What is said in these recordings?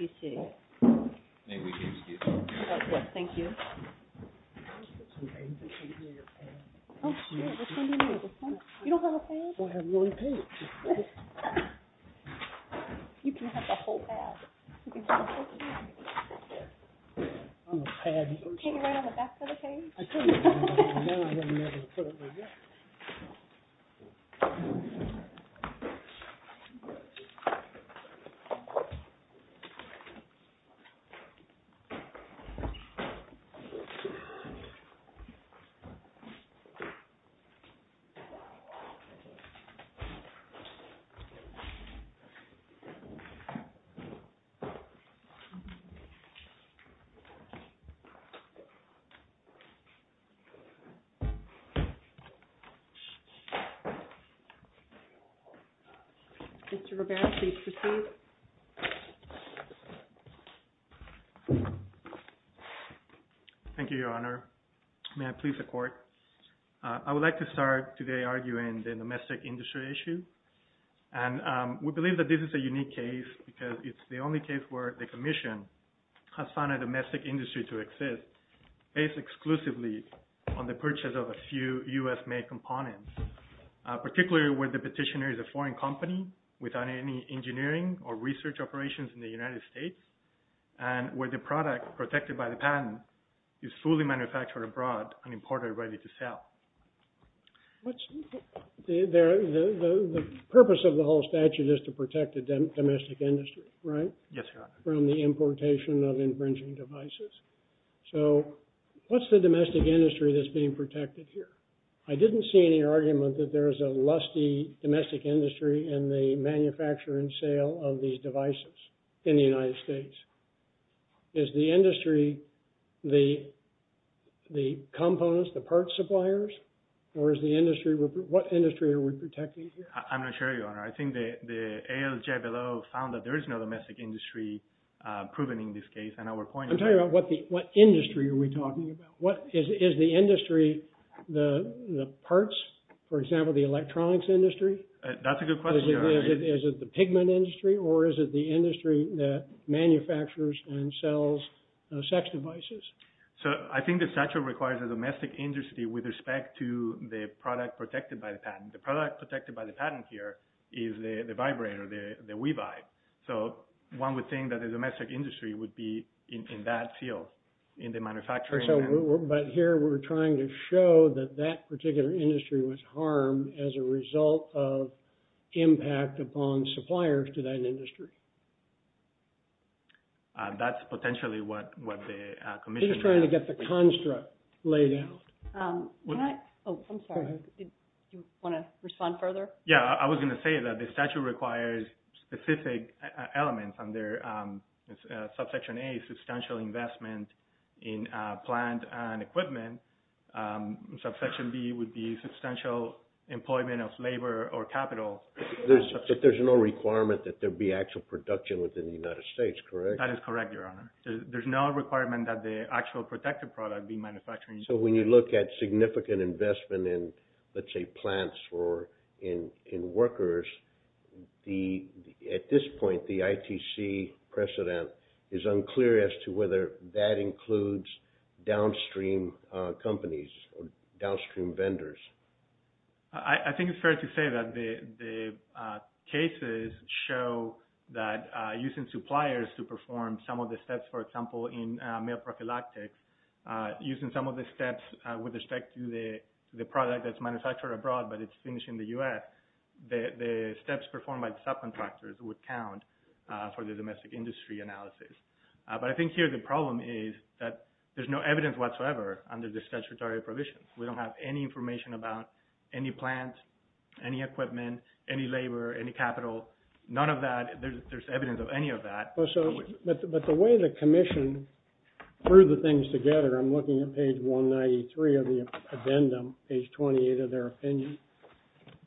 May we excuse you? Of course, thank you. Oh, yeah, which one do you need? This one? You don't have a pad? Well, I have one pad. You can have the whole pad. Can't you write on the back of the page? I could, but now I wouldn't be able to put it there yet. Okay. Mr. Roberts, please proceed. Thank you, Your Honor. May I please the Court? I would like to start today arguing the domestic industry issue. And we believe that this is a unique case because it's the only case where the Commission has found a domestic industry to exist based exclusively on the purchase of a few U.S.-made components, particularly where the petitioner is a foreign company without any engineering or research operations in the United States, and where the product protected by the patent is fully manufactured abroad and imported ready to sell. The purpose of the whole statute is to protect the domestic industry, right? Yes, Your Honor. From the importation of infringing devices. So, what's the domestic industry that's being protected here? I didn't see any argument that there is a lusty domestic industry in the manufacture and sale of these devices in the United States. Is the industry the components, the parts suppliers? Or is the industry... What industry are we protecting here? I'm not sure, Your Honor. I think the ALJBLO found that there is no domestic industry proven in this case. And our point is... I'm talking about what industry are we talking about? Is the industry the parts? For example, the electronics industry? That's a good question, Your Honor. Is it the pigment industry? Or is it the industry that manufactures and sells sex devices? So, I think the statute requires a domestic industry with respect to the product protected by the patent. The product protected by the patent here is the vibrator, the Wevibe. So, one would think that the domestic industry would be in that field, in the manufacturing... But here we're trying to show that that particular industry was harmed as a result of impact upon suppliers to that industry. That's potentially what the commission... He's trying to get the construct laid out. Can I... Oh, I'm sorry. Do you want to respond further? Yeah. I was going to say that the statute requires specific elements under subsection A, substantial investment in plant and equipment. Subsection B would be substantial employment of labor or capital. But there's no requirement that there be actual production within the United States, correct? That is correct, Your Honor. There's no requirement that the actual protected product be manufactured... So, when you look at significant investment in, let's say, plants or in workers, at this point, the ITC precedent is unclear as to whether that includes downstream companies or downstream vendors. I think it's fair to say that the cases show that using suppliers to perform some of the steps, for example, in male prophylactics, using some of the steps with respect to the product that's manufactured abroad, but it's finished in the U.S., the steps performed by the subcontractors would count for the domestic industry analysis. But I think here the problem is that there's no evidence whatsoever under the statutory provisions. We don't have any information about any plant, any equipment, any labor, any capital, none of that. There's evidence of any of that. But the way the commission threw the things together, I'm looking at page 193 of the addendum, page 28 of their opinion.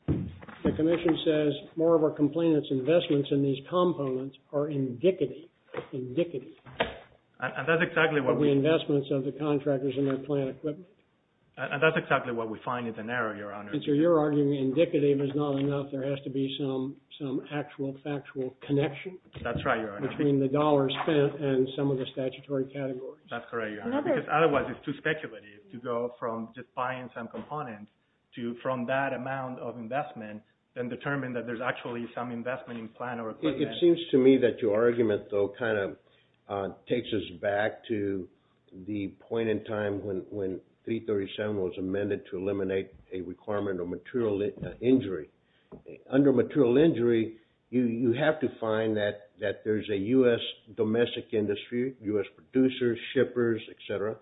The commission says more of our complainants' investments in these components are indicative, indicative... And that's exactly what we... ...of the investments of the contractors in their plant equipment. And that's exactly what we find is an error, Your Honor. And so you're arguing indicative is not enough, there has to be some actual factual connection? That's right, Your Honor. Between the dollars spent and some of the statutory categories. That's correct, Your Honor. Because otherwise it's too speculative to go from just buying some component to from that amount of investment then determine that there's actually some investment in plant or equipment. It seems to me that your argument, though, kind of takes us back to the point in time when 337 was amended to eliminate a requirement of material injury. Under material injury, you have to find that there's a U.S. domestic industry, U.S. producers, shippers, etc.,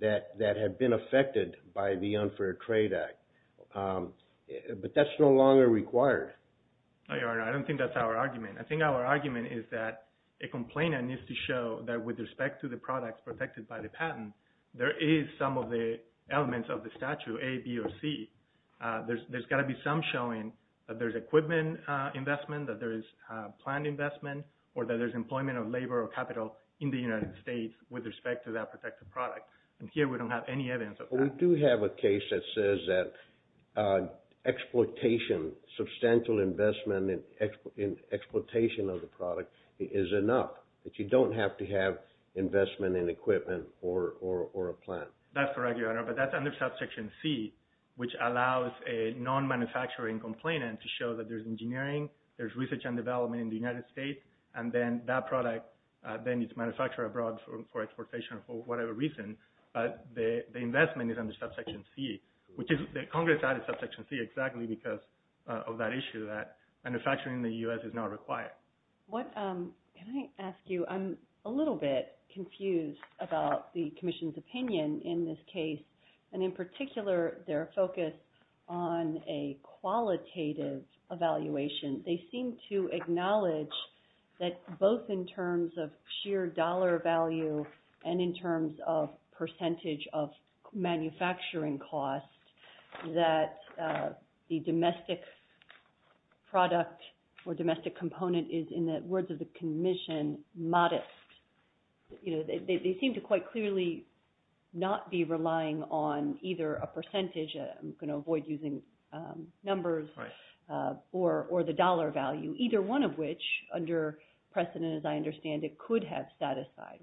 that have been affected by the Unfair Trade Act. But that's no longer required. No, Your Honor, I don't think that's our argument. I think our argument is that a complainant needs to show that with respect to the products protected by the patent, there is some of the elements of the statute, A, B, or C. There's got to be some showing that there's equipment investment, that there is plant investment, or that there's employment of labor or capital in the United States with respect to that protected product. And here we don't have any evidence of that. We do have a case that says that exploitation, substantial investment in exploitation of the product is enough, that you don't have to have investment in equipment or a plant. That's correct, Your Honor. But that's under Subsection C, which allows a non-manufacturing complainant to show that there's engineering, there's research and development in the United States, and then that product then is manufactured abroad for exploitation or for whatever reason. But the investment is under Subsection C, which Congress added Subsection C exactly because of that issue, that manufacturing in the U.S. is not required. Can I ask you, I'm a little bit confused about the Commission's opinion in this case, and in particular their focus on a qualitative evaluation. They seem to acknowledge that both in terms of sheer dollar value and in terms of percentage of manufacturing costs, that the domestic product or domestic component is, in the words of the Commission, modest. They seem to quite clearly not be relying on either a percentage, I'm going to avoid using numbers, or the dollar value, either one of which, under precedent as I understand it, could have satisfied.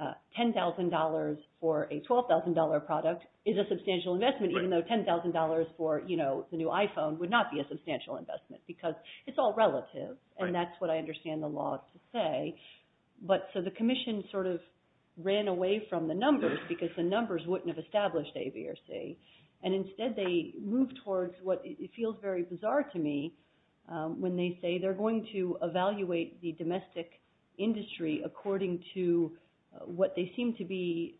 $10,000 for a $12,000 product is a substantial investment, even though $10,000 for the new iPhone would not be a substantial investment because it's all relative, and that's what I understand the law to say. So the Commission sort of ran away from the numbers because the numbers wouldn't have established A, B, or C, and instead they moved towards what feels very bizarre to me, when they say they're going to evaluate the domestic industry according to what they seem to be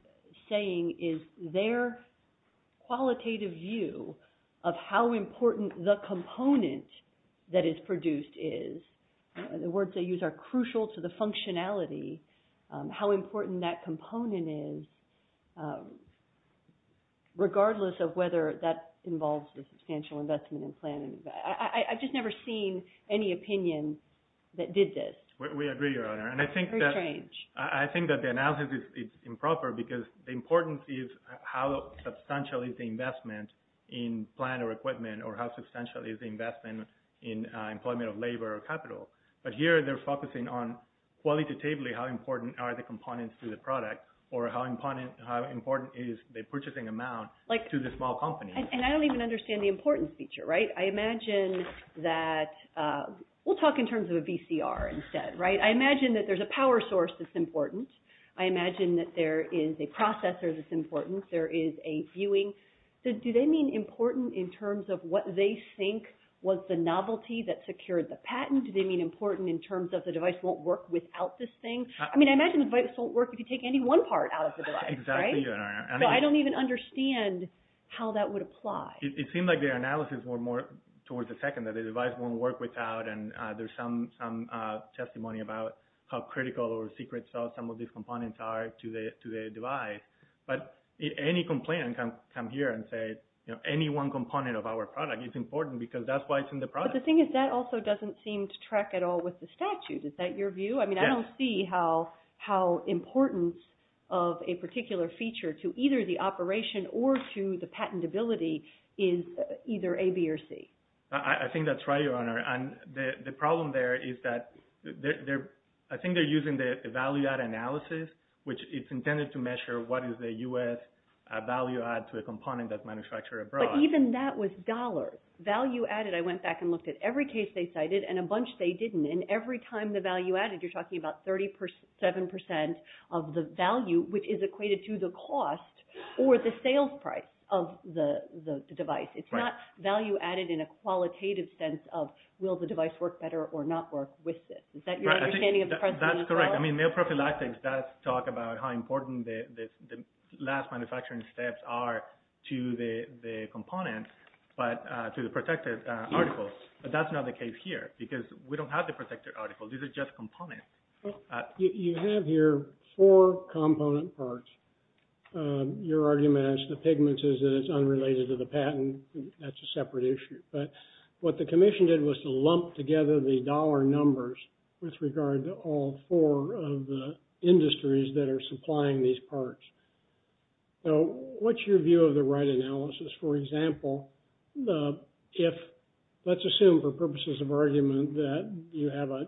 saying is their qualitative view of how important the component that is produced is. The words they use are crucial to the functionality, how important that component is, regardless of whether that involves a substantial investment in planning. I've just never seen any opinion that did this. We agree, Your Honor, and I think that the analysis is improper because the importance is how substantial is the investment in plan or equipment, or how substantial is the investment in employment of labor or capital. But here they're focusing on qualitatively how important are the components to the product, or how important is the purchasing amount to the small company. And I don't even understand the importance feature, right? I imagine that – we'll talk in terms of a VCR instead, right? I imagine that there's a power source that's important. I imagine that there is a processor that's important. There is a viewing. Do they mean important in terms of what they think was the novelty that secured the patent? Do they mean important in terms of the device won't work without this thing? I mean, I imagine the device won't work if you take any one part out of the device, right? Exactly, Your Honor. So I don't even understand how that would apply. It seems like their analysis were more towards the second, that the device won't work without, and there's some testimony about how critical or secret some of these components are to the device. But any complaint can come here and say any one component of our product is important because that's why it's in the product. But the thing is that also doesn't seem to track at all with the statute. Is that your view? Yes. I don't see how importance of a particular feature to either the operation or to the patentability is either A, B, or C. I think that's right, Your Honor. And the problem there is that I think they're using the value-add analysis, which it's intended to measure what is the U.S. value-add to a component that's manufactured abroad. But even that was dollars. Value-added, I went back and looked at every case they cited and a bunch they didn't. And every time the value-added, you're talking about 37 percent of the value, which is equated to the cost or the sales price of the device. It's not value-added in a qualitative sense of will the device work better or not work with this. Is that your understanding of the precedent as well? That's correct. I mean, male prophylaxis does talk about how important the last manufacturing steps are to the components, but to the protected articles. But that's not the case here because we don't have the protected articles. These are just components. You have here four component parts. Your argument is the pigments is that it's unrelated to the patent. That's a separate issue. But what the commission did was to lump together the dollar numbers with regard to all four of the industries that are supplying these parts. So what's your view of the right analysis? For example, let's assume for purposes of argument that you have a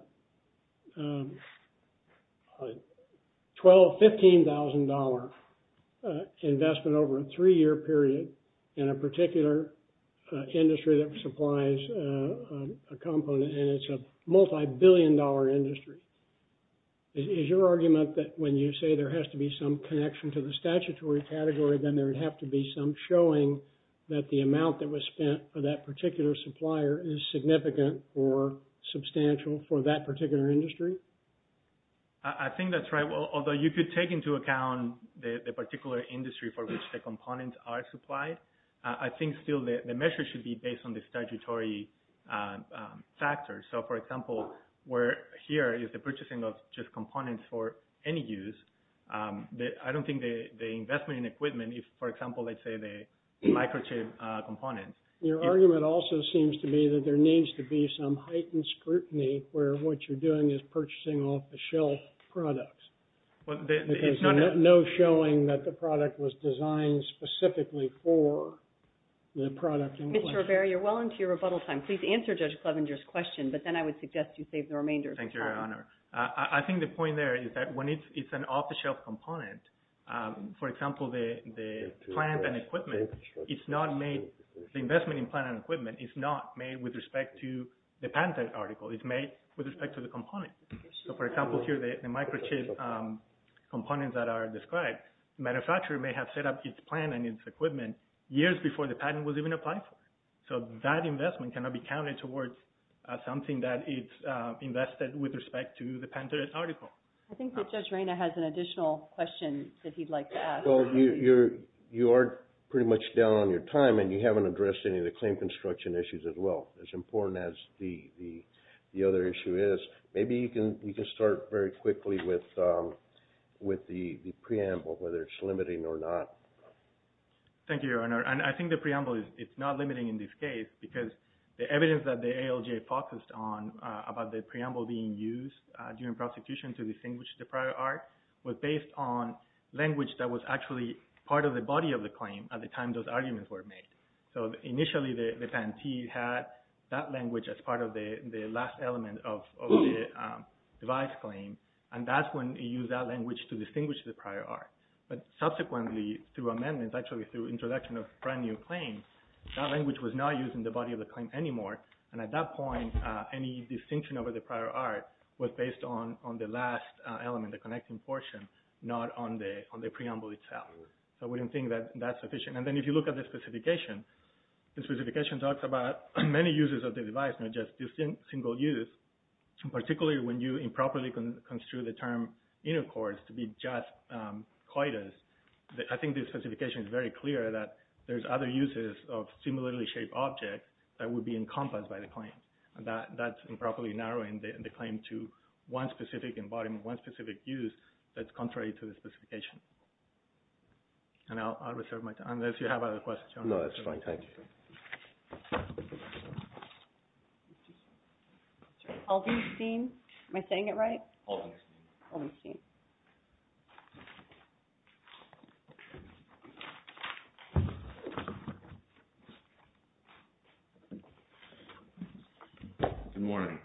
$12,000, $15,000 investment over a three-year period in a particular industry that supplies a component, and it's a multibillion-dollar industry. Is your argument that when you say there has to be some connection to the statutory category, then there would have to be some showing that the amount that was spent for that particular supplier is significant or substantial for that particular industry? I think that's right. Although you could take into account the particular industry for which the components are supplied, I think still the measure should be based on the statutory factors. So, for example, where here is the purchasing of just components for any use, I don't think the investment in equipment, for example, let's say the microchip components. Your argument also seems to be that there needs to be some heightened scrutiny where what you're doing is purchasing off-the-shelf products. There's no showing that the product was designed specifically for the product. Mr. Rivera, you're well into your rebuttal time. Please answer Judge Clevenger's question, but then I would suggest you save the remainder of your time. Thank you, Your Honor. I think the point there is that when it's an off-the-shelf component, for example, the plant and equipment, the investment in plant and equipment is not made with respect to the patented article. It's made with respect to the component. So, for example, here the microchip components that are described, the manufacturer may have set up its plant and its equipment years before the patent was even applied for. So that investment cannot be counted towards something that is invested with respect to the patented article. I think that Judge Reyna has an additional question that he'd like to ask. Well, you are pretty much down on your time, and you haven't addressed any of the claim construction issues as well, as important as the other issue is. Maybe you can start very quickly with the preamble, whether it's limiting or not. Thank you, Your Honor. I think the preamble is not limiting in this case because the evidence that the ALJ focused on about the preamble being used during prosecution to distinguish the prior art was based on language that was actually part of the body of the claim at the time those arguments were made. So, initially, the plaintiff had that language as part of the last element of the device claim, and that's when he used that language to distinguish the prior art. But subsequently, through amendments, actually through introduction of a brand-new claim, that language was not used in the body of the claim anymore. And at that point, any distinction over the prior art was based on the last element, the connecting portion, not on the preamble itself. So we don't think that that's sufficient. And then if you look at the specification, the specification talks about many uses of the device, not just single use, particularly when you improperly construe the term intercourse to be just coitus. I think this specification is very clear that there's other uses of similarly shaped objects that would be encompassed by the claim. That's improperly narrowing the claim to one specific embodiment, one specific use that's contrary to the specification. And I'll reserve my time unless you have other questions. No, that's fine. Thank you. Haldenstein? Am I saying it right? Haldenstein. Haldenstein. Good morning.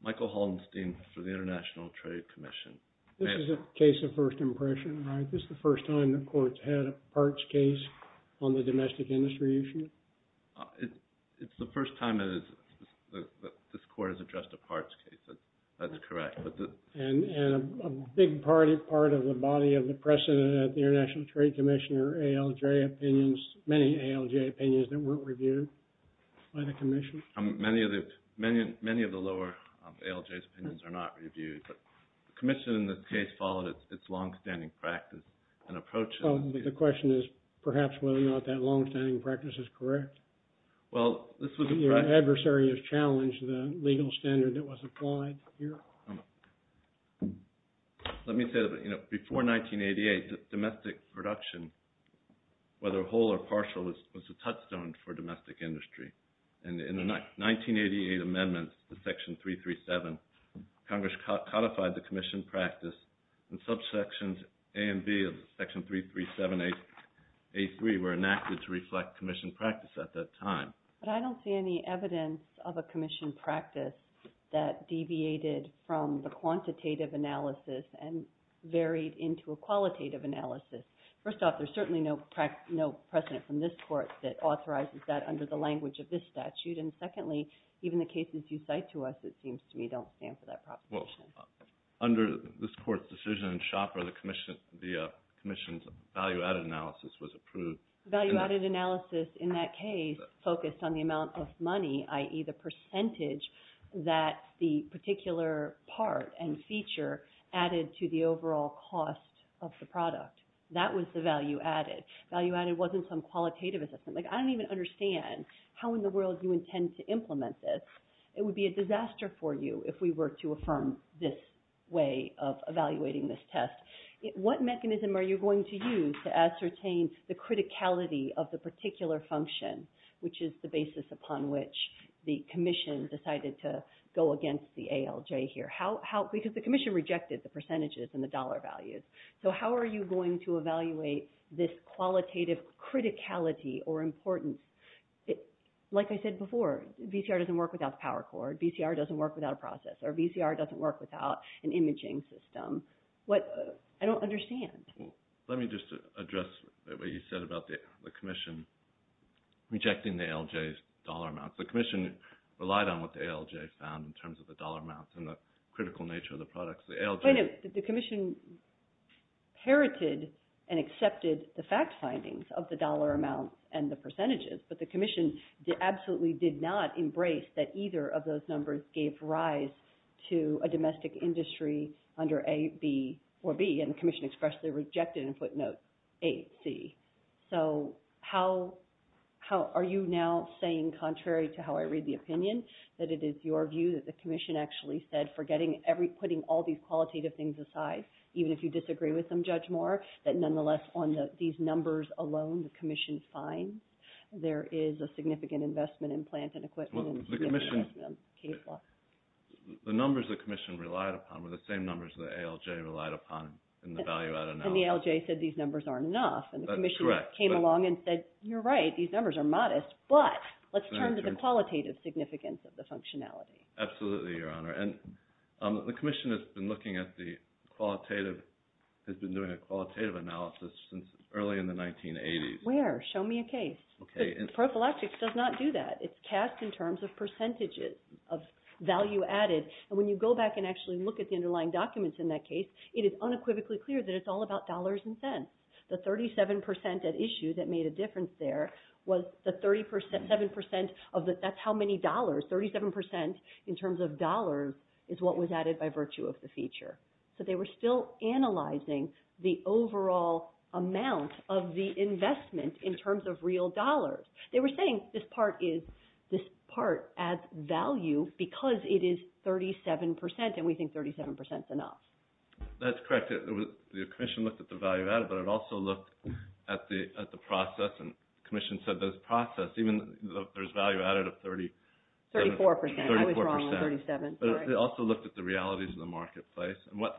Michael Haldenstein for the International Trade Commission. This is a case of first impression, right? This is the first time the court's had a parts case on the domestic industry issue? It's the first time that this court has addressed a parts case. That's correct. And a big part of the body of the precedent at the International Trade Commission are ALJ opinions, many ALJ opinions that weren't reviewed by the commission? Many of the lower ALJ's opinions are not reviewed. But the commission in this case followed its longstanding practice and approach. The question is perhaps whether or not that longstanding practice is correct. Well, this was a... The adversary has challenged the legal standard that was applied here. Let me say that before 1988, domestic production, whether whole or partial, was a touchstone for domestic industry. And in the 1988 amendments to Section 337, Congress codified the commission practice and subsections A and B of Section 337A3 were enacted to reflect commission practice at that time. But I don't see any evidence of a commission practice that deviated from the quantitative analysis and varied into a qualitative analysis. First off, there's certainly no precedent from this court that authorizes that under the language of this statute. And secondly, even the cases you cite to us, it seems to me, don't stand for that proposition. Well, under this court's decision in Schopper, the commission's value-added analysis was approved. The value-added analysis in that case focused on the amount of money, i.e., the percentage that the particular part and feature added to the overall cost of the product. That was the value-added. Value-added wasn't some qualitative assessment. Like, I don't even understand how in the world you intend to implement this. It would be a disaster for you if we were to affirm this way of evaluating this test. What mechanism are you going to use to ascertain the criticality of the particular function, which is the basis upon which the commission decided to go against the ALJ here? Because the commission rejected the percentages and the dollar values. So how are you going to evaluate this qualitative criticality or importance? Like I said before, VCR doesn't work without the power cord, VCR doesn't work without a process, or VCR doesn't work without an imaging system. I don't understand. Let me just address what you said about the commission rejecting the ALJ's dollar amounts. The commission relied on what the ALJ found in terms of the dollar amounts and the critical nature of the products. Wait a minute. The commission parroted and accepted the fact findings of the dollar amounts and the percentages, but the commission absolutely did not embrace that either of those numbers gave rise to a domestic industry under A, B, or B, and the commission expressly rejected and put note A, C. So how are you now saying, contrary to how I read the opinion, that it is your view that the commission actually said, putting all these qualitative things aside, even if you disagree with them, Judge Moore, that nonetheless on these numbers alone the commission is fine? There is a significant investment in plant and equipment. The numbers the commission relied upon were the same numbers the ALJ relied upon in the value added analysis. And the ALJ said these numbers aren't enough. That's correct. And the commission came along and said, you're right, these numbers are modest, but let's turn to the qualitative significance of the functionality. Absolutely, Your Honor. And the commission has been looking at the qualitative, has been doing a qualitative analysis since early in the 1980s. Where? Show me a case. Okay. Prophylaxis does not do that. It's cast in terms of percentages of value added. And when you go back and actually look at the underlying documents in that case, it is unequivocally clear that it's all about dollars and cents. The 37% at issue that made a difference there was the 37% of the, that's how many dollars, 37% in terms of dollars is what was added by virtue of the feature. So they were still analyzing the overall amount of the investment in terms of real dollars. They were saying this part is, this part adds value because it is 37%, and we think 37% is enough. That's correct. The commission looked at the value added, but it also looked at the process, and the commission said that it's processed. Even though there's value added of 37. 34%. 34%. I was wrong on 37. But it also looked at the realities of the marketplace. Well,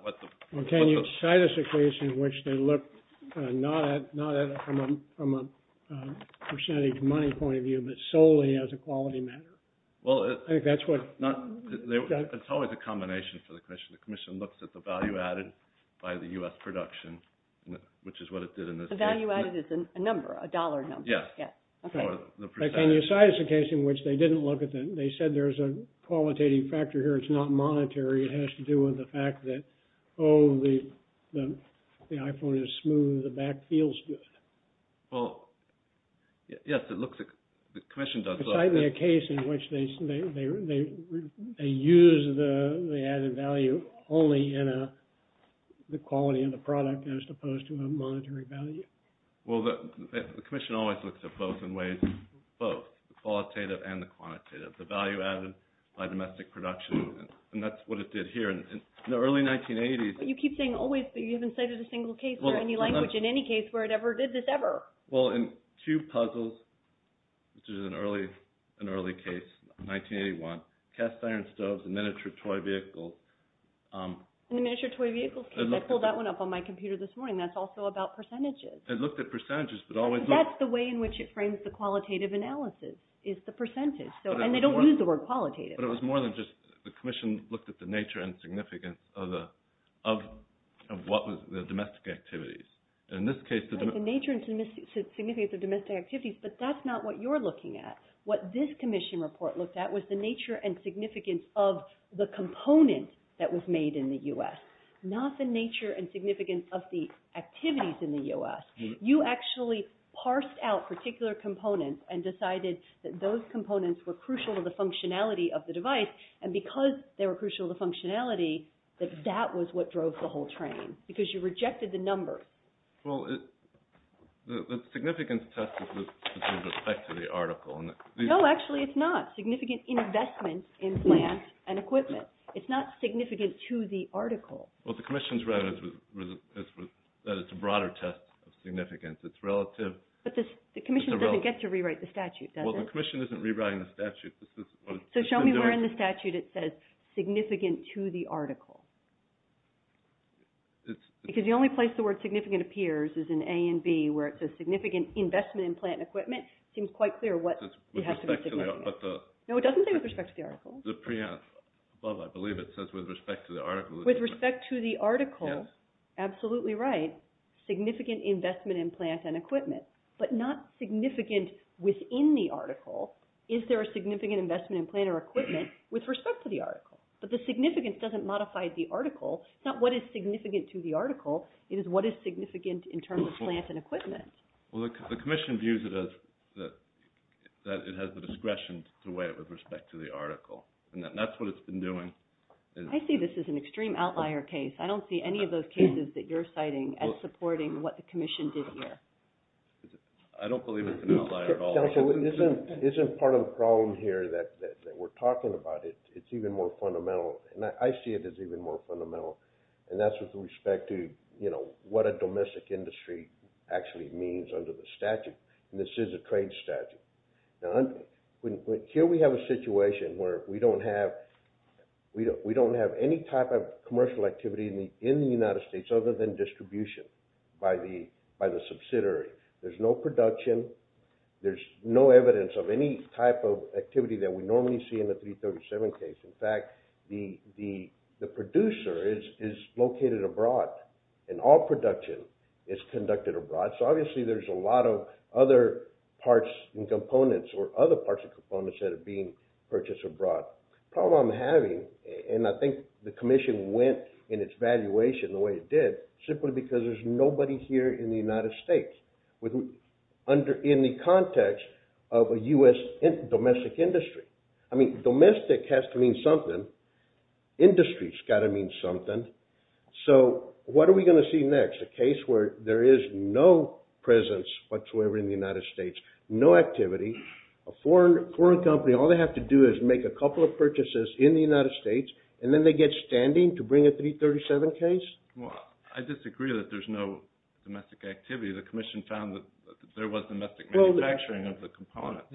can you cite us a case in which they looked not at it from a percentage money point of view, but solely as a quality matter? Well, it's always a combination for the commission. The commission looks at the value added by the U.S. production, which is what it did in this case. The value added is a number, a dollar number. Yes. Can you cite us a case in which they didn't look at that? They said there's a qualitative factor here. It's not monetary. It has to do with the fact that, oh, the iPhone is smooth. The back feels good. Well, yes, it looks like the commission does. Cite me a case in which they use the added value only in the quality of the product as opposed to a monetary value. Well, the commission always looks at both in ways, both the qualitative and the quantitative, the value added by domestic production. And that's what it did here. In the early 1980s – You keep saying always, but you haven't cited a single case or any language in any case where it ever did this, ever. Well, in two puzzles, which is an early case, 1981, cast iron stoves, a miniature toy vehicle – In the miniature toy vehicle case. I pulled that one up on my computer this morning. That's also about percentages. It looked at percentages, but always – That's the way in which it frames the qualitative analysis is the percentage. And they don't use the word qualitative. But it was more than just the commission looked at the nature and significance of what was the domestic activities. In this case – The nature and significance of domestic activities, but that's not what you're looking at. What this commission report looked at was the nature and significance of the component that was made in the U.S., not the nature and significance of the activities in the U.S. You actually parsed out particular components and decided that those components were crucial to the functionality of the device. And because they were crucial to functionality, that that was what drove the whole train because you rejected the numbers. Well, the significance test is with respect to the article. No, actually, it's not. Significant investment in plants and equipment. It's not significant to the article. What the commission has read is that it's a broader test of significance. It's relative – But the commission doesn't get to rewrite the statute, does it? Well, the commission isn't rewriting the statute. So show me where in the statute it says significant to the article. Because the only place the word significant appears is in A and B where it says significant investment in plant and equipment. It seems quite clear what has to be significant. No, it doesn't say with respect to the article. Above, I believe, it says with respect to the article. With respect to the article. Yes. Absolutely right. Significant investment in plant and equipment. But not significant within the article. Is there a significant investment in plant or equipment with respect to the article? But the significance doesn't modify the article. It's not what is significant to the article. It is what is significant in terms of plant and equipment. Well, the commission views it as that it has the discretion to weigh it with respect to the article. And that's what it's been doing. I see this as an extreme outlier case. I don't see any of those cases that you're citing as supporting what the commission did here. I don't believe it's an outlier at all. Counsel, isn't part of the problem here that we're talking about, it's even more fundamental. And I see it as even more fundamental. And that's with respect to, you know, what a domestic industry actually means under the statute. And this is a trade statute. Here we have a situation where we don't have any type of commercial activity in the United States other than distribution by the subsidiary. There's no production. There's no evidence of any type of activity that we normally see in the 337 case. In fact, the producer is located abroad. And all production is conducted abroad. So obviously there's a lot of other parts and components or other parts and components that are being purchased abroad. The problem I'm having, and I think the commission went in its valuation the way it did, simply because there's nobody here in the United States in the context of a U.S. domestic industry. I mean, domestic has to mean something. Industry's got to mean something. So what are we going to see next? A case where there is no presence whatsoever in the United States, no activity. A foreign company, all they have to do is make a couple of purchases in the United States, and then they get standing to bring a 337 case? Well, I disagree that there's no domestic activity. The commission found that there was domestic manufacturing of the components.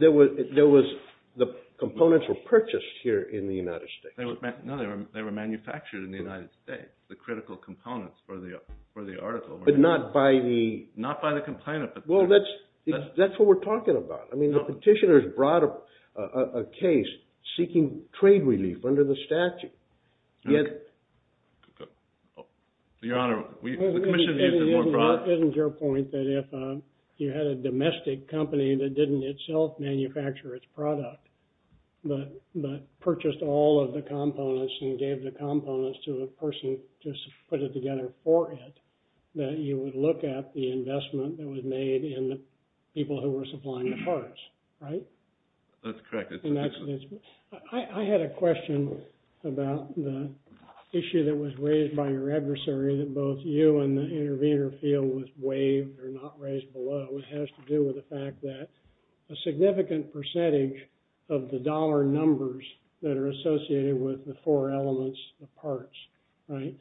The components were purchased here in the United States. No, they were manufactured in the United States. But not by the critical components for the article. Not by the complainant. Well, that's what we're talking about. I mean, the petitioners brought a case seeking trade relief under the statute. Your Honor, the commission used it more broadly. Isn't your point that if you had a domestic company that didn't itself manufacture its product, but purchased all of the components and gave the components to a person to put it together for it, that you would look at the investment that was made in the people who were supplying the parts, right? That's correct. I had a question about the issue that was raised by your adversary, that both you and the intervener feel was waived or not raised below. It has to do with the fact that a significant percentage of the dollar numbers that are associated with the four elements, the parts, right,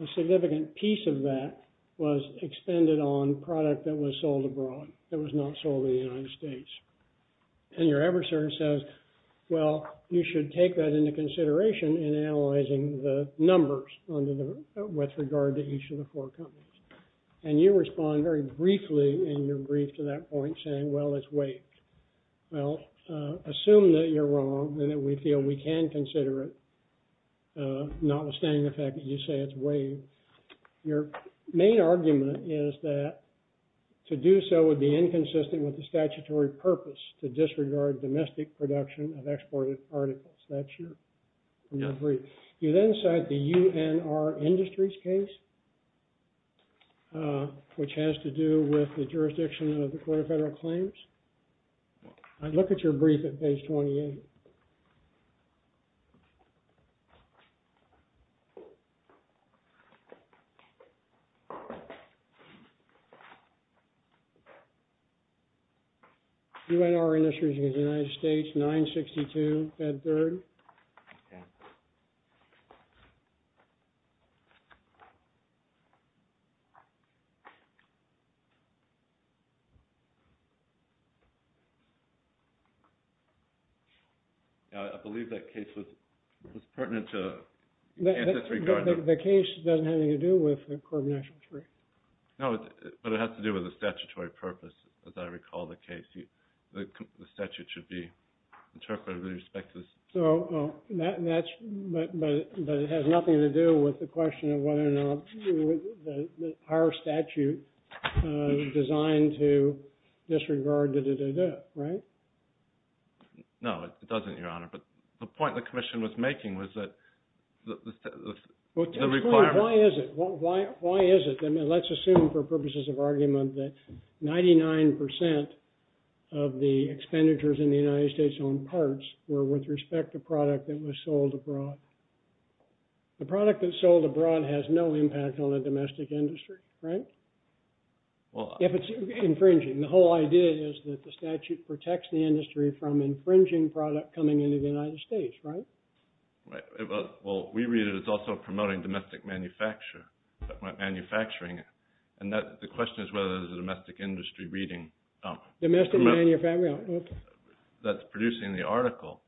a significant piece of that was expended on product that was sold abroad, that was not sold in the United States. And your adversary says, well, you should take that into consideration in analyzing the numbers with regard to each of the four companies. And you respond very briefly in your brief to that point saying, well, it's waived. Well, assume that you're wrong and that we feel we can consider it, notwithstanding the fact that you say it's waived. Your main argument is that to do so would be inconsistent with the statutory purpose to disregard domestic production of exported particles. That's your brief. You then cite the UNR Industries case, which has to do with the jurisdiction of the Court of Federal Claims. I'd look at your brief at page 28. UNR Industries against the United States, 962, Fed 3rd. Okay. I believe that case was pertinent to disregard. The case doesn't have anything to do with the Court of National Injury. No, but it has to do with the statutory purpose, as I recall the case. The statute should be interpreted with respect to this. But it has nothing to do with the question of whether or not our statute is designed to disregard, right? No, it doesn't, Your Honor. But the point the commission was making was that the requirement. Why is it? Let's assume, for purposes of argument, that 99% of the expenditures in the United States on parts were with respect to product that was sold abroad. The product that's sold abroad has no impact on the domestic industry, right? If it's infringing. The whole idea is that the statute protects the industry from infringing product coming into the United States, right? Well, we read it as also promoting domestic manufacturing. And the question is whether there's a domestic industry reading. Domestic manufacturing, okay. That's producing the article.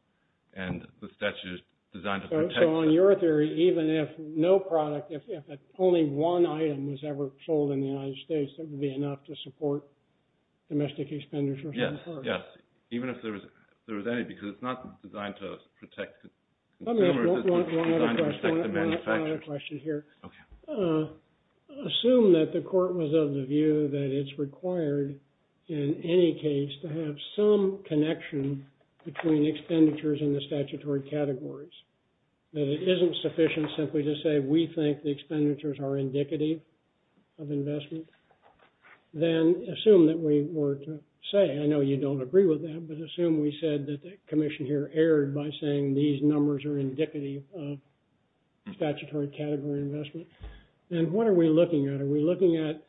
And the statute is designed to protect. So on your theory, even if no product, if only one item was ever sold in the United States, that would be enough to support domestic expenditures on the part? Yes, yes. Even if there was any, because it's not designed to protect. One other question here. Assume that the court was of the view that it's required in any case to have some connection between expenditures and the statutory categories. That it isn't sufficient simply to say, we think the expenditures are indicative of investment. Then assume that we were to say, I know you don't agree with that, but assume we said that the commission here erred by saying these numbers are indicative of statutory category investment. And what are we looking at? Are we looking at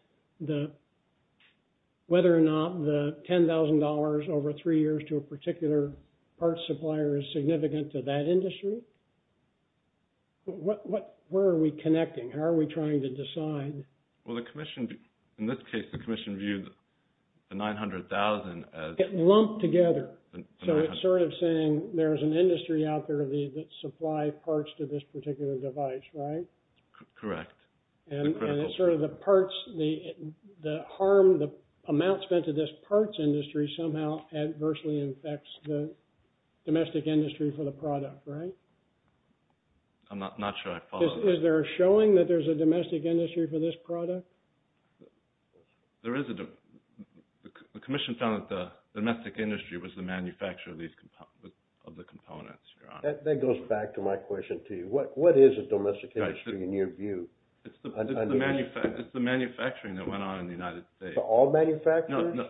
whether or not the $10,000 over three years to a particular parts supplier is significant to that industry? Where are we connecting? How are we trying to decide? Well, the commission, in this case, the commission viewed the $900,000 as- Lumped together. So it's sort of saying there's an industry out there that supply parts to this particular device, right? Correct. And it's sort of the parts, the harm, the amount spent to this parts industry somehow adversely infects the domestic industry for the product, right? I'm not sure I follow. Is there a showing that there's a domestic industry for this product? There is a – the commission found that the domestic industry was the manufacturer of the components, Your Honor. That goes back to my question to you. What is a domestic industry in your view? It's the manufacturing that went on in the United States. To all manufacturers? No, no.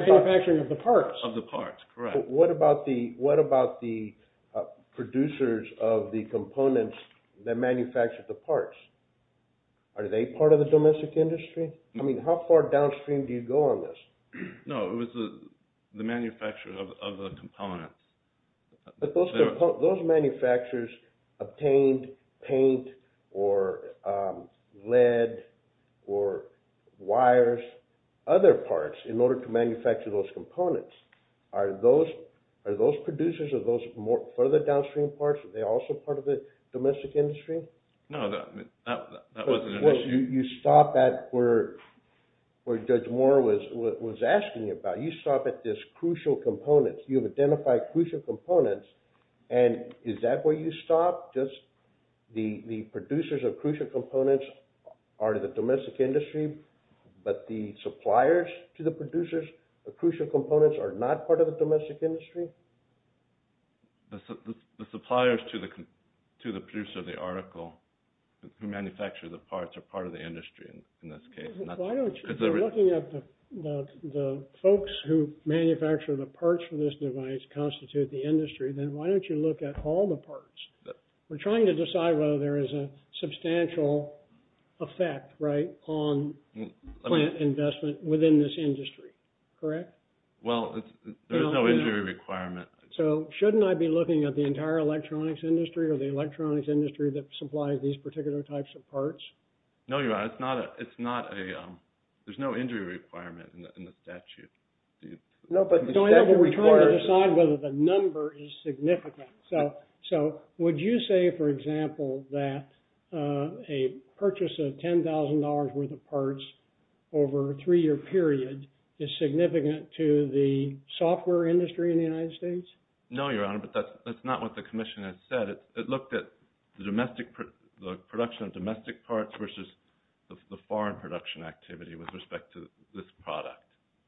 Manufacturing of the parts. Of the parts, correct. What about the producers of the components that manufactured the parts? Are they part of the domestic industry? I mean, how far downstream do you go on this? No, it was the manufacturer of the components. But those manufacturers obtained paint or lead or wires, other parts, in order to manufacture those components. Are those producers or those further downstream parts, are they also part of the domestic industry? No, that wasn't an issue. You stop at where Judge Moore was asking about. You stop at this crucial components. You've identified crucial components, and is that where you stop? Just the producers of crucial components are the domestic industry, but the suppliers to the producers of crucial components are not part of the domestic industry? The suppliers to the producer of the article who manufactured the parts are part of the industry in this case. Why don't you, if you're looking at the folks who manufactured the parts for this device constitute the industry, then why don't you look at all the parts? We're trying to decide whether there is a substantial effect, right, on plant investment within this industry. Correct? Well, there's no injury requirement. So shouldn't I be looking at the entire electronics industry or the electronics industry that supplies these particular types of parts? No, you're right. It's not a – there's no injury requirement in the statute. No, but we're trying to decide whether the number is significant. So would you say, for example, that a purchase of $10,000 worth of parts over a three-year period is significant to the software industry in the United States? No, Your Honor, but that's not what the commission has said. It looked at the production of domestic parts versus the foreign production activity with respect to this product,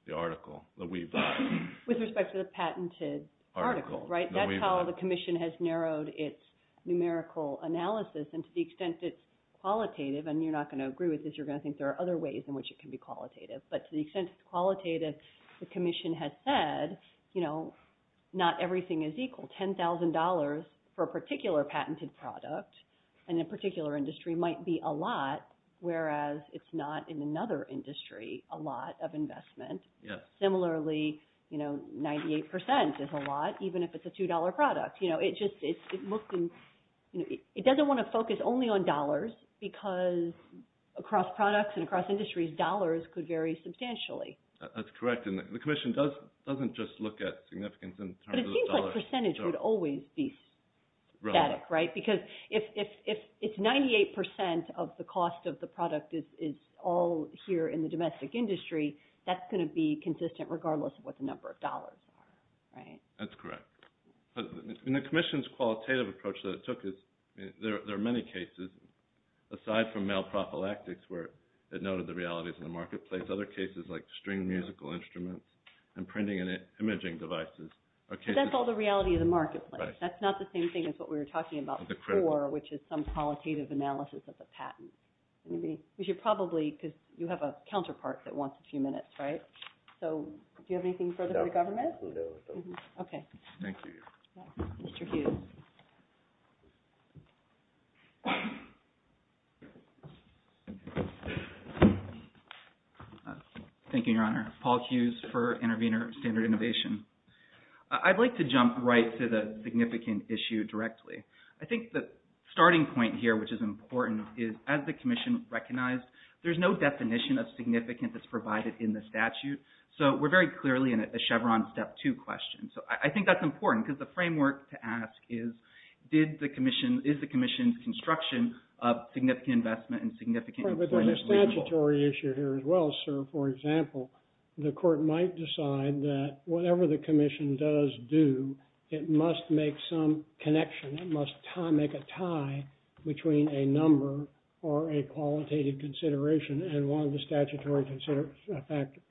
the article, the Webuy. With respect to the patented article, right? That's how the commission has narrowed its numerical analysis, and to the extent it's qualitative, and you're not going to agree with this, you're going to think there are other ways in which it can be qualitative, but to the extent it's qualitative, the commission has said not everything is equal. $10,000 for a particular patented product in a particular industry might be a lot, whereas it's not in another industry a lot of investment. Similarly, 98% is a lot, even if it's a $2 product. Because across products and across industries, dollars could vary substantially. That's correct, and the commission doesn't just look at significance in terms of dollars. But it seems like percentage would always be static, right? Because if it's 98% of the cost of the product is all here in the domestic industry, that's going to be consistent regardless of what the number of dollars are, right? That's correct. And the commission's qualitative approach that it took is there are many cases, aside from male prophylactics where it noted the realities in the marketplace, other cases like string musical instruments and printing and imaging devices. But that's all the reality of the marketplace. That's not the same thing as what we were talking about before, which is some qualitative analysis of the patent. Because you have a counterpart that wants a few minutes, right? So do you have anything further for the government? Okay. Thank you. Mr. Hughes. Thank you, Your Honor. Paul Hughes for Intervenor Standard Innovation. I'd like to jump right to the significant issue directly. I think the starting point here, which is important, is as the commission recognized, there's no definition of significance that's provided in the statute. So we're very clearly in a Chevron step two question. So I think that's important because the framework to ask is, is the commission's construction of significant investment and significant employment reasonable? But there's a statutory issue here as well, sir. For example, the court might decide that whatever the commission does do, it must make some connection. It must make a tie between a number or a qualitative consideration and one of the statutory factors.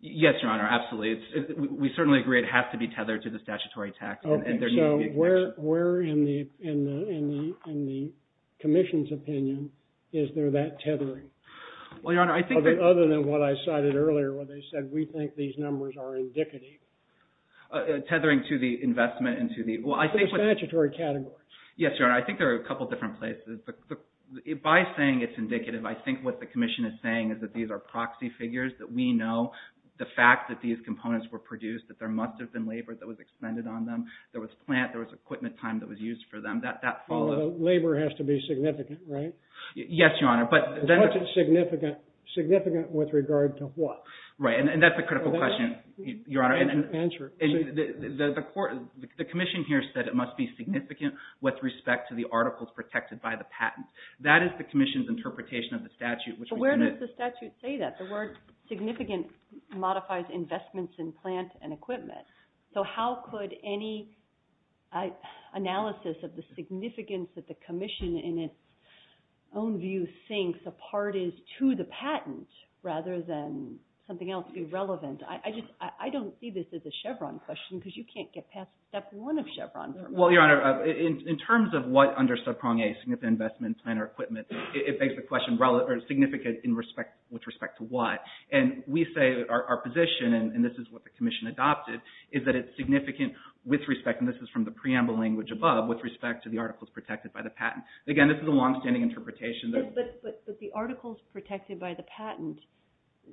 Yes, Your Honor. Absolutely. We certainly agree it has to be tethered to the statutory tax. Okay. So where in the commission's opinion is there that tethering? Well, Your Honor, I think that— Other than what I cited earlier where they said, we think these numbers are indicative. Tethering to the investment and to the— To the statutory category. Yes, Your Honor. I think there are a couple different places. By saying it's indicative, I think what the commission is saying is that these are proxy figures, that we know the fact that these components were produced, that there must have been labor that was expended on them. There was plant. There was equipment time that was used for them. That follows— Labor has to be significant, right? Yes, Your Honor. But what's it significant with regard to what? Right. And that's a critical question, Your Honor. Answer it. The commission here said it must be significant with respect to the articles protected by the patent. That is the commission's interpretation of the statute. But where does the statute say that? The word significant modifies investments in plant and equipment. So how could any analysis of the significance that the commission, in its own view, thinks a part is to the patent rather than something else be relevant? I don't see this as a Chevron question because you can't get past step one of Chevron. Well, Your Honor, in terms of what under subprong A, significant investment in plant or equipment, it begs the question, significant with respect to what? And we say our position, and this is what the commission adopted, is that it's significant with respect, and this is from the preamble language above, with respect to the articles protected by the patent. Again, this is a longstanding interpretation. But the articles protected by the patent,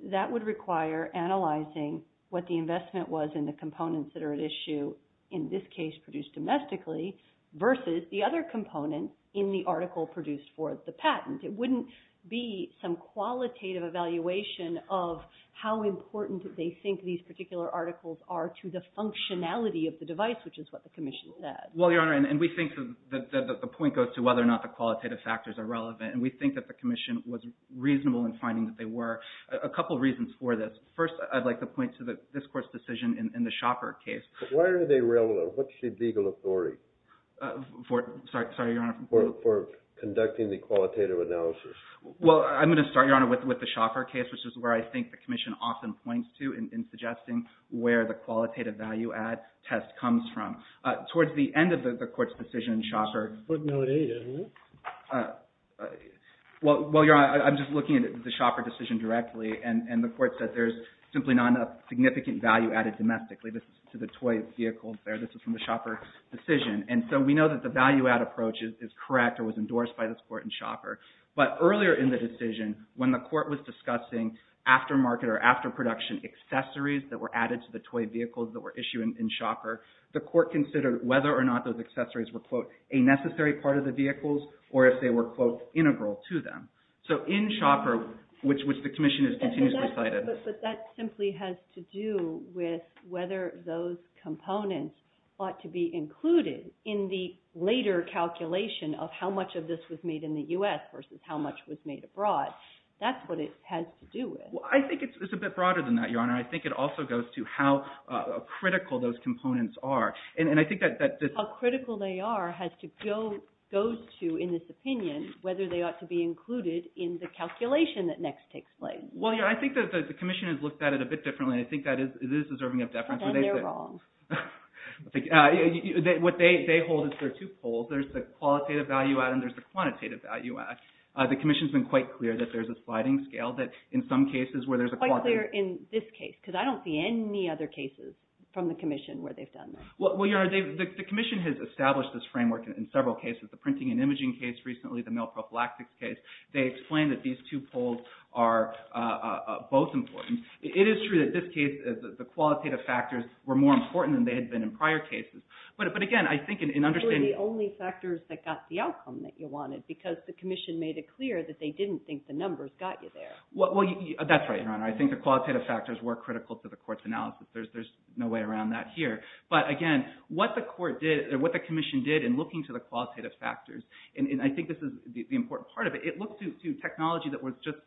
that would require analyzing what the investment was in the components that are at issue, in this case produced domestically, versus the other component in the article produced for the patent. It wouldn't be some qualitative evaluation of how important they think these particular articles are to the functionality of the device, which is what the commission said. Well, Your Honor, and we think that the point goes to whether or not the qualitative factors are relevant, and we think that the commission was reasonable in finding that they were. A couple reasons for this. First, I'd like to point to this Court's decision in the Schaffer case. Why are they relevant? What's the legal authority? Sorry, Your Honor. For conducting the qualitative analysis. Well, I'm going to start, Your Honor, with the Schaffer case, which is where I think the commission often points to in suggesting where the qualitative value-add test comes from. Towards the end of the Court's decision, Schaffer... What note is it? Well, Your Honor, I'm just looking at the Schaffer decision directly, and the Court said there's simply not enough significant value added domestically. This is to the toy vehicle there. This is from the Schaffer decision. And so we know that the value-add approach is correct or was endorsed by this Court in Schaffer. But earlier in the decision, when the Court was discussing aftermarket or afterproduction accessories that were added to the toy vehicles that were issued in Schaffer, the Court considered whether or not those accessories were, quote, a necessary part of the vehicles or if they were, quote, integral to them. So in Schaffer, which the commission has continuously cited... But that simply has to do with whether those components ought to be included in the later calculation of how much of this was made in the U.S. versus how much was made abroad. That's what it has to do with. Well, I think it's a bit broader than that, Your Honor. I think it also goes to how critical those components are. And I think that... How critical they are has to go to, in this opinion, whether they ought to be included in the calculation that next takes place. Well, Your Honor, I think that the commission has looked at it a bit differently. I think that it is deserving of deference. Then they're wrong. What they hold is there are two poles. There's the qualitative value-add and there's the quantitative value-add. The commission has been quite clear that there's a sliding scale, that in some cases where there's a... Quite clear in this case because I don't see any other cases from the commission where they've done that. Well, Your Honor, the commission has established this framework in several cases, the printing and imaging case recently, the male prophylaxis case. They explain that these two poles are both important. It is true that this case, the qualitative factors, were more important than they had been in prior cases. But again, I think in understanding... They were the only factors that got the outcome that you wanted because the commission made it clear that they didn't think the numbers got you there. Well, that's right, Your Honor. I think the qualitative factors were critical to the court's analysis. There's no way around that here. But again, what the commission did in looking to the qualitative factors, and I think this is the important part of it, it looked to technology that was just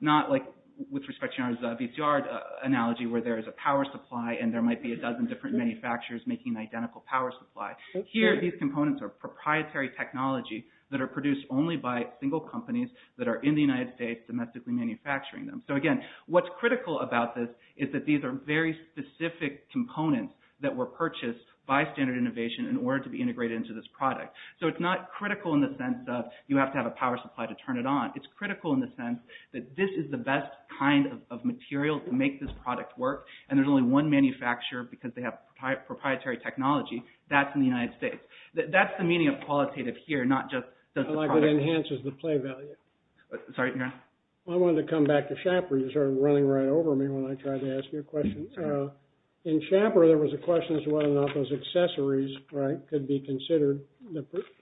not like, with respect to Your Honor's VCR analogy, where there is a power supply and there might be a dozen different manufacturers making identical power supply. Here, these components are proprietary technology that are produced only by single companies that are in the United States domestically manufacturing them. So again, what's critical about this is that these are very specific components that were purchased by Standard Innovation in order to be integrated into this product. So it's not critical in the sense of, you have to have a power supply to turn it on. It's critical in the sense that this is the best kind of material to make this product work, and there's only one manufacturer, because they have proprietary technology, that's in the United States. That's the meaning of qualitative here, not just... Like it enhances the play value. Sorry, Your Honor. You started running right over me when I tried to ask you a question. In Schaeffer, there was a question as to whether or not those accessories could be considered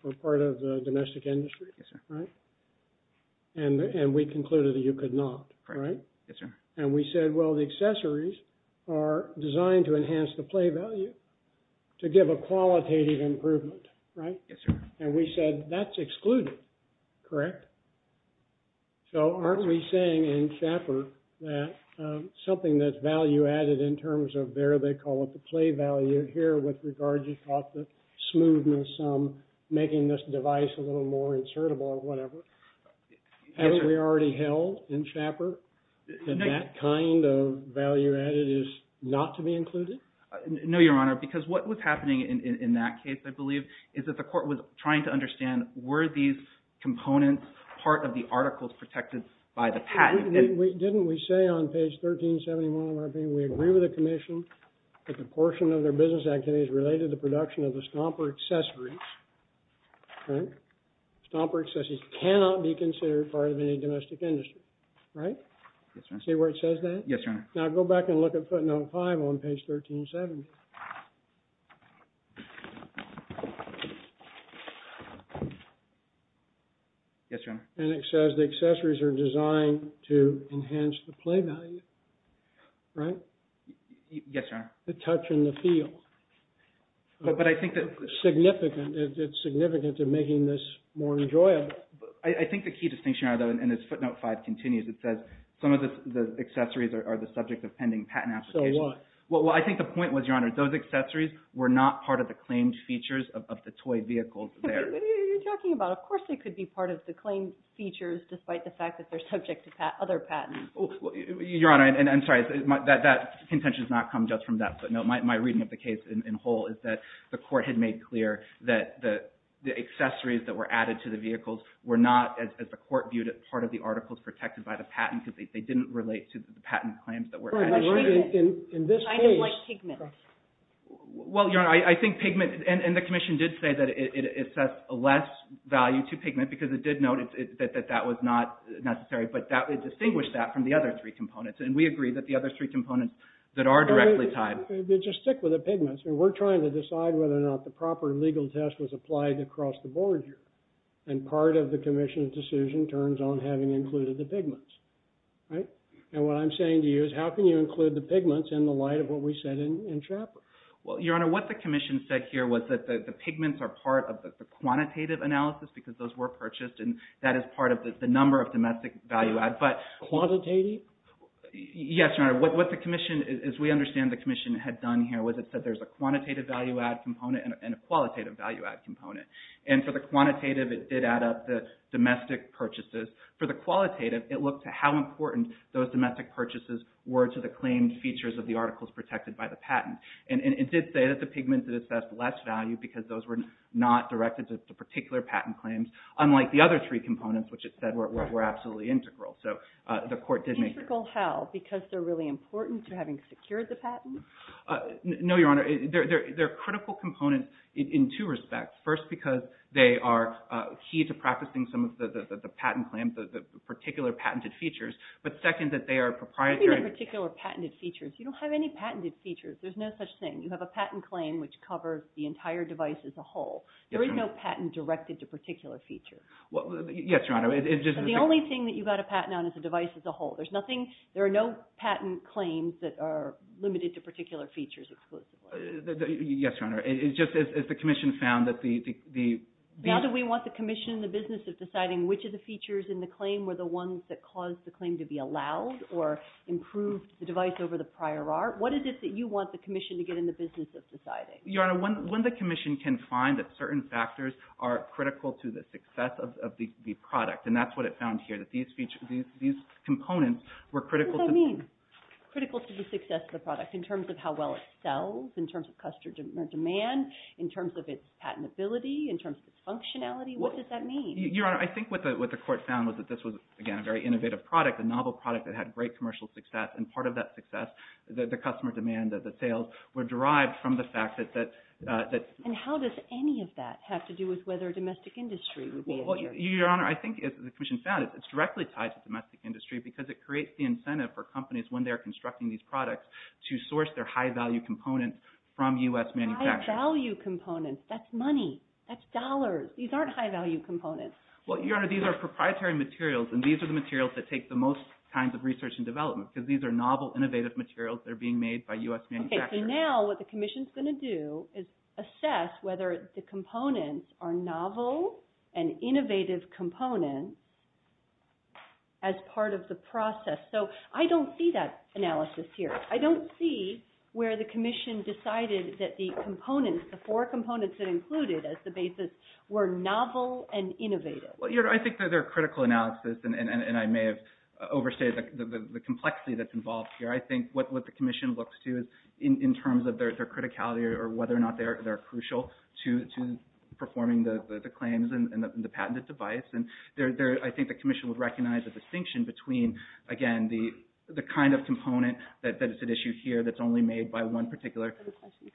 for part of the domestic industry. And we concluded that you could not, right? Yes, sir. And we said, well, the accessories are designed to enhance the play value to give a qualitative improvement, right? Yes, sir. And we said, that's excluded, correct? So aren't we saying, in Schaeffer, that something that's value-added in terms of their, they call it the play value here, with regard to the smoothness, making this device a little more insertable or whatever, haven't we already held in Schaeffer that that kind of value-added is not to be included? No, Your Honor, because what was happening in that case, I believe, is that the court was trying to understand were these components part of the articles protected by the patent? Didn't we say on page 1371 of our opinion, we agree with the Commission that the proportion of their business activities related to the production of the stomper accessories, right? Stomper accessories cannot be considered part of any domestic industry, right? Yes, Your Honor. See where it says that? Yes, Your Honor. Now go back and look at footnote 5 on page 1370. Yes, Your Honor. And it says the accessories are designed to enhance the play value, right? Yes, Your Honor. The touch and the feel. But I think that... Significant, it's significant to making this more enjoyable. I think the key distinction, Your Honor, though, and as footnote 5 continues, it says, some of the accessories are the subject of pending patent application. So what? Well, I think the point was, Your Honor, those accessories were not part of the claimed features of the toy vehicle there. What are you talking about? Of course they could be part of the claimed features despite the fact that they're subject to other patents. Your Honor, and I'm sorry, that contention has not come just from that footnote. My reading of the case in whole is that the court had made clear that the accessories that were added to the vehicles were not, as the court viewed it, part of the articles protected by the patent because they didn't relate to the patent claims that were added. In this case... Kind of like pigment. Well, Your Honor, I think pigment... And the Commission did say that it sets less value to pigment because it did note that that was not necessary, but it distinguished that from the other three components, and we agree that the other three components that are directly tied... Just stick with the pigments. We're trying to decide whether or not the proper legal test was applied across the board here, and part of the Commission's decision turns on having included the pigments. Right? And what I'm saying to you is, how can you include the pigments in the light of what we said in Chappell? Well, Your Honor, what the Commission said here was that the pigments are part of the quantitative analysis because those were purchased, and that is part of the number of domestic value-add, but... Quantitative? Yes, Your Honor. What the Commission, as we understand the Commission had done here, was it said there's a quantitative value-add component and a qualitative value-add component. And for the quantitative, it did add up the domestic purchases. For the qualitative, it looked at how important those domestic purchases were to the claimed features of the articles protected by the patent. And it did say that the pigments had assessed less value because those were not directed to particular patent claims, unlike the other three components, which it said were absolutely integral. So the Court did make... Integral how? Because they're really important to having secured the patent? No, Your Honor. They're critical components in two respects. First, because they are key to practicing some of the patent claims, the particular patented features. But second, that they are proprietary... What do you mean by particular patented features? You don't have any patented features. There's no such thing. You have a patent claim which covers the entire device as a whole. There is no patent directed to a particular feature. Yes, Your Honor. The only thing that you've got to patent on is the device as a whole. There are no patent claims that are limited to particular features exclusively. Yes, Your Honor. It's just as the Commission found that the... Now do we want the Commission in the business of deciding which of the features in the claim were the ones that caused the claim to be allowed or improved the device over the prior art? What is it that you want the Commission to get in the business of deciding? Your Honor, when the Commission can find that certain factors are critical to the success of the product, and that's what it found here, that these features, these components were critical to... What does that mean? Critical to the success of the product in terms of how well it sells, in terms of customer demand, in terms of its patentability, in terms of its functionality? What does that mean? Your Honor, I think what the Court found was that this was, again, a very innovative product, a novel product that had great commercial success, and part of that success, the customer demand, the sales, were derived from the fact that... And how does any of that have to do with whether domestic industry would be... Well, Your Honor, I think as the Commission found, it's directly tied to domestic industry because it creates the incentive for companies when they're constructing these products to source their high-value components from U.S. manufacturers. High-value components. That's money. That's dollars. These aren't high-value components. Well, Your Honor, these are proprietary materials, and these are the materials that take the most kinds of research and development because these are novel, innovative materials that are being made by U.S. manufacturers. Okay, so now what the Commission's going to do is assess whether the components are novel and innovative components as part of the process. So I don't see that analysis here. I don't see where the Commission decided that the components, the four components it included as the basis, were novel and innovative. Well, Your Honor, I think that their critical analysis, and I may have overstated the complexity that's involved here, I think what the Commission looks to is in terms of their criticality or whether or not they're crucial to performing the claims and the patented device. And I think the Commission would recognize a distinction between, again, the kind of component that is at issue here that's only made by one particular... Is there a question?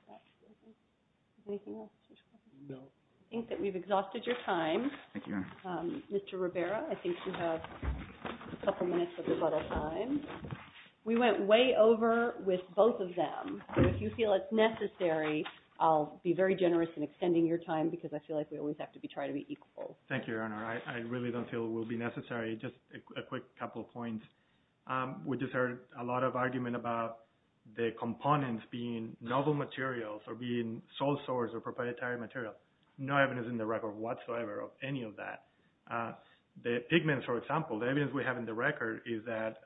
Anything else? No. I think that we've exhausted your time. Thank you, Your Honor. Mr. Ribeiro, I think you have a couple minutes of rebuttal time. We went way over with both of them. So if you feel it's necessary, I'll be very generous in extending your time because I feel like we always have to try to be equal. Thank you, Your Honor. I really don't feel it will be necessary. Just a quick couple of points. We just heard a lot of argument about the components being novel materials or being sole source of proprietary material. No evidence in the record whatsoever of any of that. The pigments, for example, the evidence we have in the record is that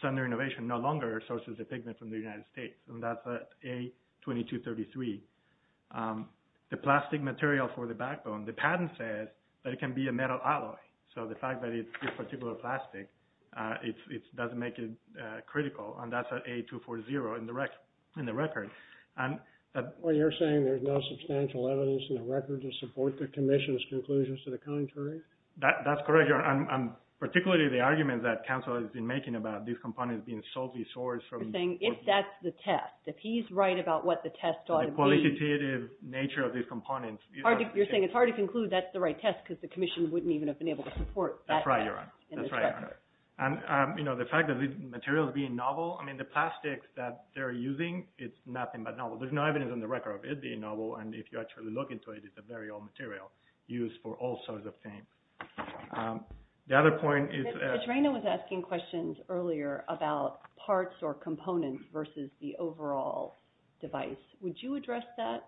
Sunder Innovation no longer sources the pigment from the United States, and that's A2233. The plastic material for the backbone, the patent says that it can be a metal alloy. So the fact that it's this particular plastic doesn't make it critical, and that's A240 in the record. Well, you're saying there's no substantial evidence in the record to support the Commission's conclusions to the contrary? That's correct, Your Honor, and particularly the argument that counsel has been making about these components being solely sourced from the portfolio. You're saying if that's the test, if he's right about what the test ought to be. The qualitative nature of these components. You're saying it's hard to conclude that's the right test because the Commission wouldn't even have been able to support that test. That's right, Your Honor. That's right, Your Honor. And, you know, the fact that the material is being novel, I mean, the plastics that they're using, it's nothing but novel. There's no evidence in the record of it being novel, and if you actually look into it, it's a very old material used for all sorts of things. The other point is… Petrano was asking questions earlier about parts or components versus the overall device. Would you address that?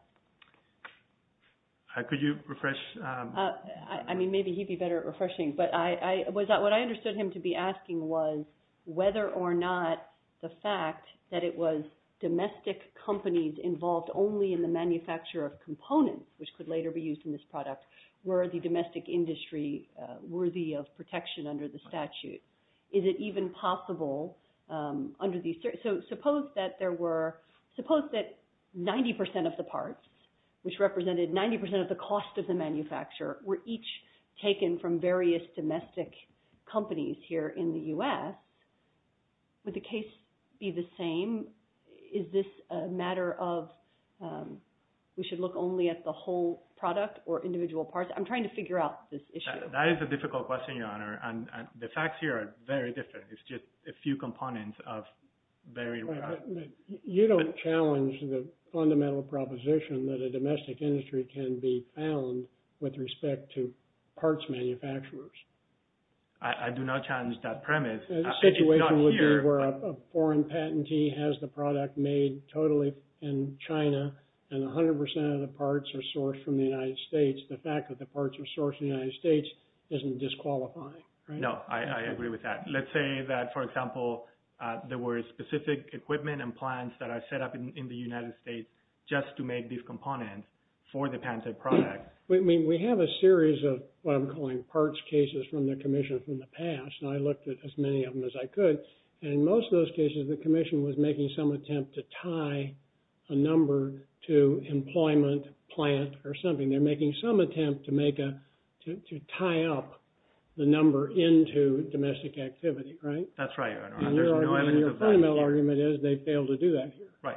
Could you refresh? I mean, maybe he'd be better at refreshing, but what I understood him to be asking was whether or not the fact that it was domestic companies involved only in the manufacture of components, which could later be used in this product, were the domestic industry worthy of protection under the statute. Is it even possible under these… So suppose that 90% of the parts, which represented 90% of the cost of the manufacture, were each taken from various domestic companies here in the U.S. Would the case be the same? Is this a matter of we should look only at the whole product or individual parts? I'm trying to figure out this issue. That is a difficult question, Your Honor, and the facts here are very different. It's just a few components of very… You don't challenge the fundamental proposition that a domestic industry can be found with respect to parts manufacturers. I do not challenge that premise. The situation would be where a foreign patentee has the product made totally in China and 100% of the parts are sourced from the United States. The fact that the parts are sourced in the United States isn't disqualifying, right? No, I agree with that. Let's say that, for example, there were specific equipment and plants that are set up in the United States just to make these components for the patented product. We have a series of what I'm calling parts cases from the Commission from the past, and I looked at as many of them as I could. In most of those cases, the Commission was making some attempt to tie a number to employment, plant, or something. They're making some attempt to tie up the number into domestic activity, right? That's right, Your Honor. Your argument is they failed to do that here. Right.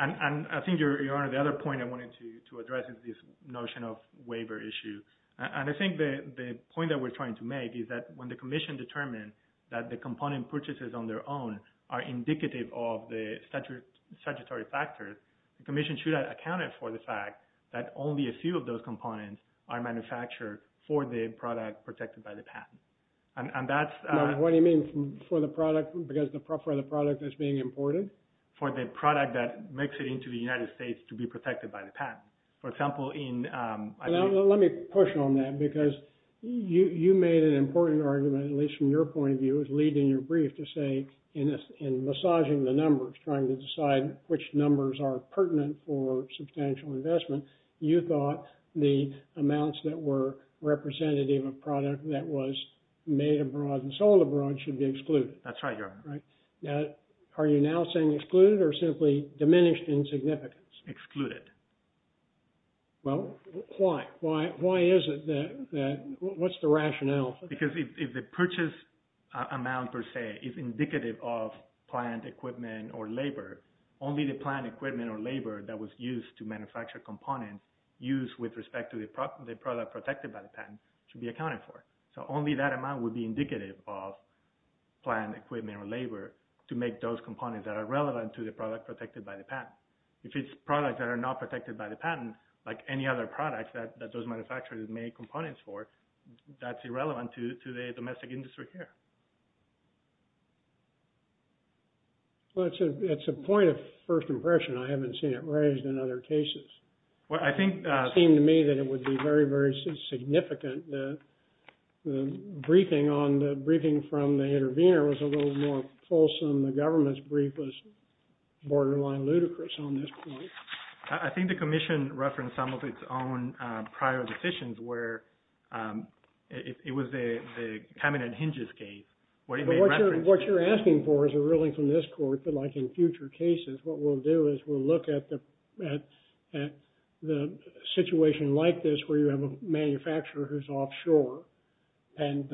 I think, Your Honor, the other point I wanted to address is this notion of waiver issue. I think the point that we're trying to make is that when the Commission determined that the component purchases on their own are indicative of the statutory factors, the Commission should have accounted for the fact that only a few of those components are manufactured for the product protected by the patent. What do you mean for the product because the product is being imported? For the product that makes it into the United States to be protected by the patent. For example, in... Let me push on that because you made an important argument, at least from your point of view, as lead in your brief, to say in massaging the numbers, trying to decide which numbers are pertinent for substantial investment, you thought the amounts that were representative of a product that was made abroad and sold abroad should be excluded. That's right, Your Honor. Right. Now, are you now saying excluded or simply diminished in significance? Excluded. Well, why? Why is it that... What's the rationale for that? Because if the purchase amount per se is indicative of plant equipment or labor, only the plant equipment or labor that was used to manufacture components used with respect to the product protected by the patent should be accounted for. So only that amount would be indicative of plant equipment or labor to make those components that are relevant to the product protected by the patent. If it's products that are not protected by the patent, like any other product that those manufacturers make components for, that's irrelevant to the domestic industry here. Well, it's a point of first impression. I haven't seen it raised in other cases. Well, I think... I think it would be very, very significant. The briefing from the intervener was a little more fulsome. The government's brief was borderline ludicrous on this point. I think the commission referenced some of its own prior decisions where it was the Kamin and Hinges case. What you're asking for is a ruling from this court, but like in future cases, what we'll do is we'll look at the situation like this where you have a manufacturer who's offshore and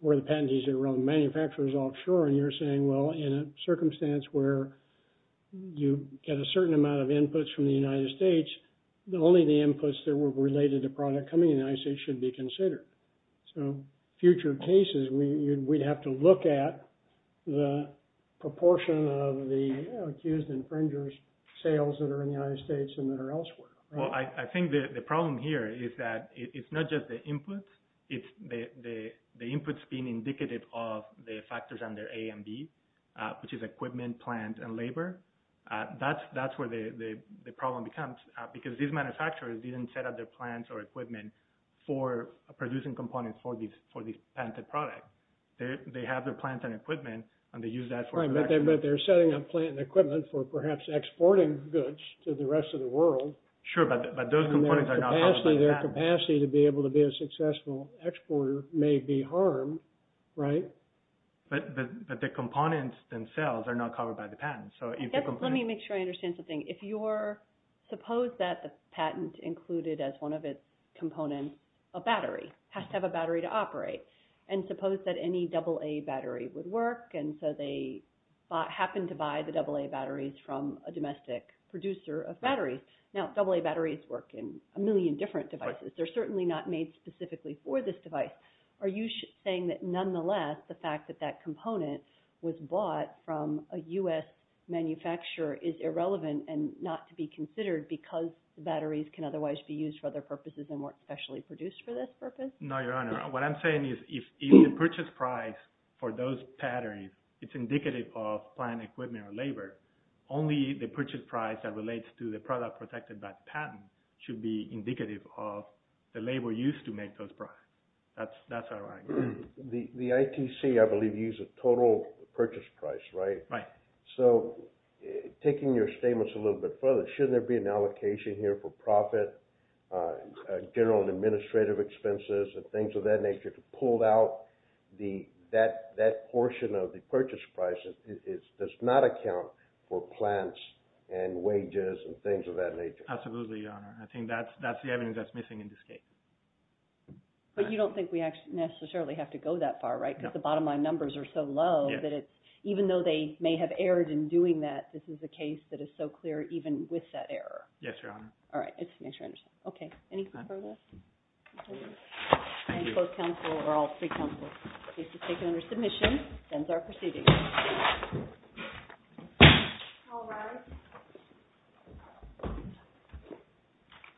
where the patentees are around the manufacturers offshore, and you're saying, well, in a circumstance where you get a certain amount of inputs from the United States, only the inputs that were related to product coming in the United States should be considered. So future cases, we'd have to look at the proportion of the accused infringers' sales that are in the United States and that are elsewhere. Well, I think the problem here is that it's not just the inputs. It's the inputs being indicative of the factors under A and B, which is equipment, plant, and labor. That's where the problem becomes, because these manufacturers didn't set up their plants or equipment for producing components for these patented products. They have their plants and equipment, and they use that for production. Right, but they're setting up plant and equipment for perhaps exporting goods to the rest of the world. Sure, but those components are not covered by the patent. And their capacity to be able to be a successful exporter may be harmed, right? But the components themselves are not covered by the patent. Let me make sure I understand something. Suppose that the patent included as one of its components a battery, has to have a battery to operate. And suppose that any AA battery would work, and so they happened to buy the AA batteries from a domestic producer of batteries. Now, AA batteries work in a million different devices. They're certainly not made specifically for this device. Are you saying that, nonetheless, the fact that that component was bought from a U.S. manufacturer is irrelevant and not to be considered because the batteries can otherwise be used for other purposes and weren't specially produced for this purpose? No, Your Honor. What I'm saying is if the purchase price for those batteries is indicative of plant and equipment or labor, only the purchase price that relates to the product protected by the patent should be indicative of the labor used to make those products. That's our argument. The ITC, I believe, uses total purchase price, right? Right. So taking your statements a little bit further, shouldn't there be an allocation here for profit, general and administrative expenses, and things of that nature to pull out that portion of the purchase price that does not account for plants and wages and things of that nature? Absolutely, Your Honor. I think that's the evidence that's missing in this case. But you don't think we necessarily have to go that far, right, because the bottom line numbers are so low that it's, even though they may have erred in doing that, this is a case that is so clear even with that error. Yes, Your Honor. All right. Just to make sure I understand. Okay. Any further? Thank you. And both counsel, or all three counsel, the case is taken under submission. Sends our proceedings. All rise.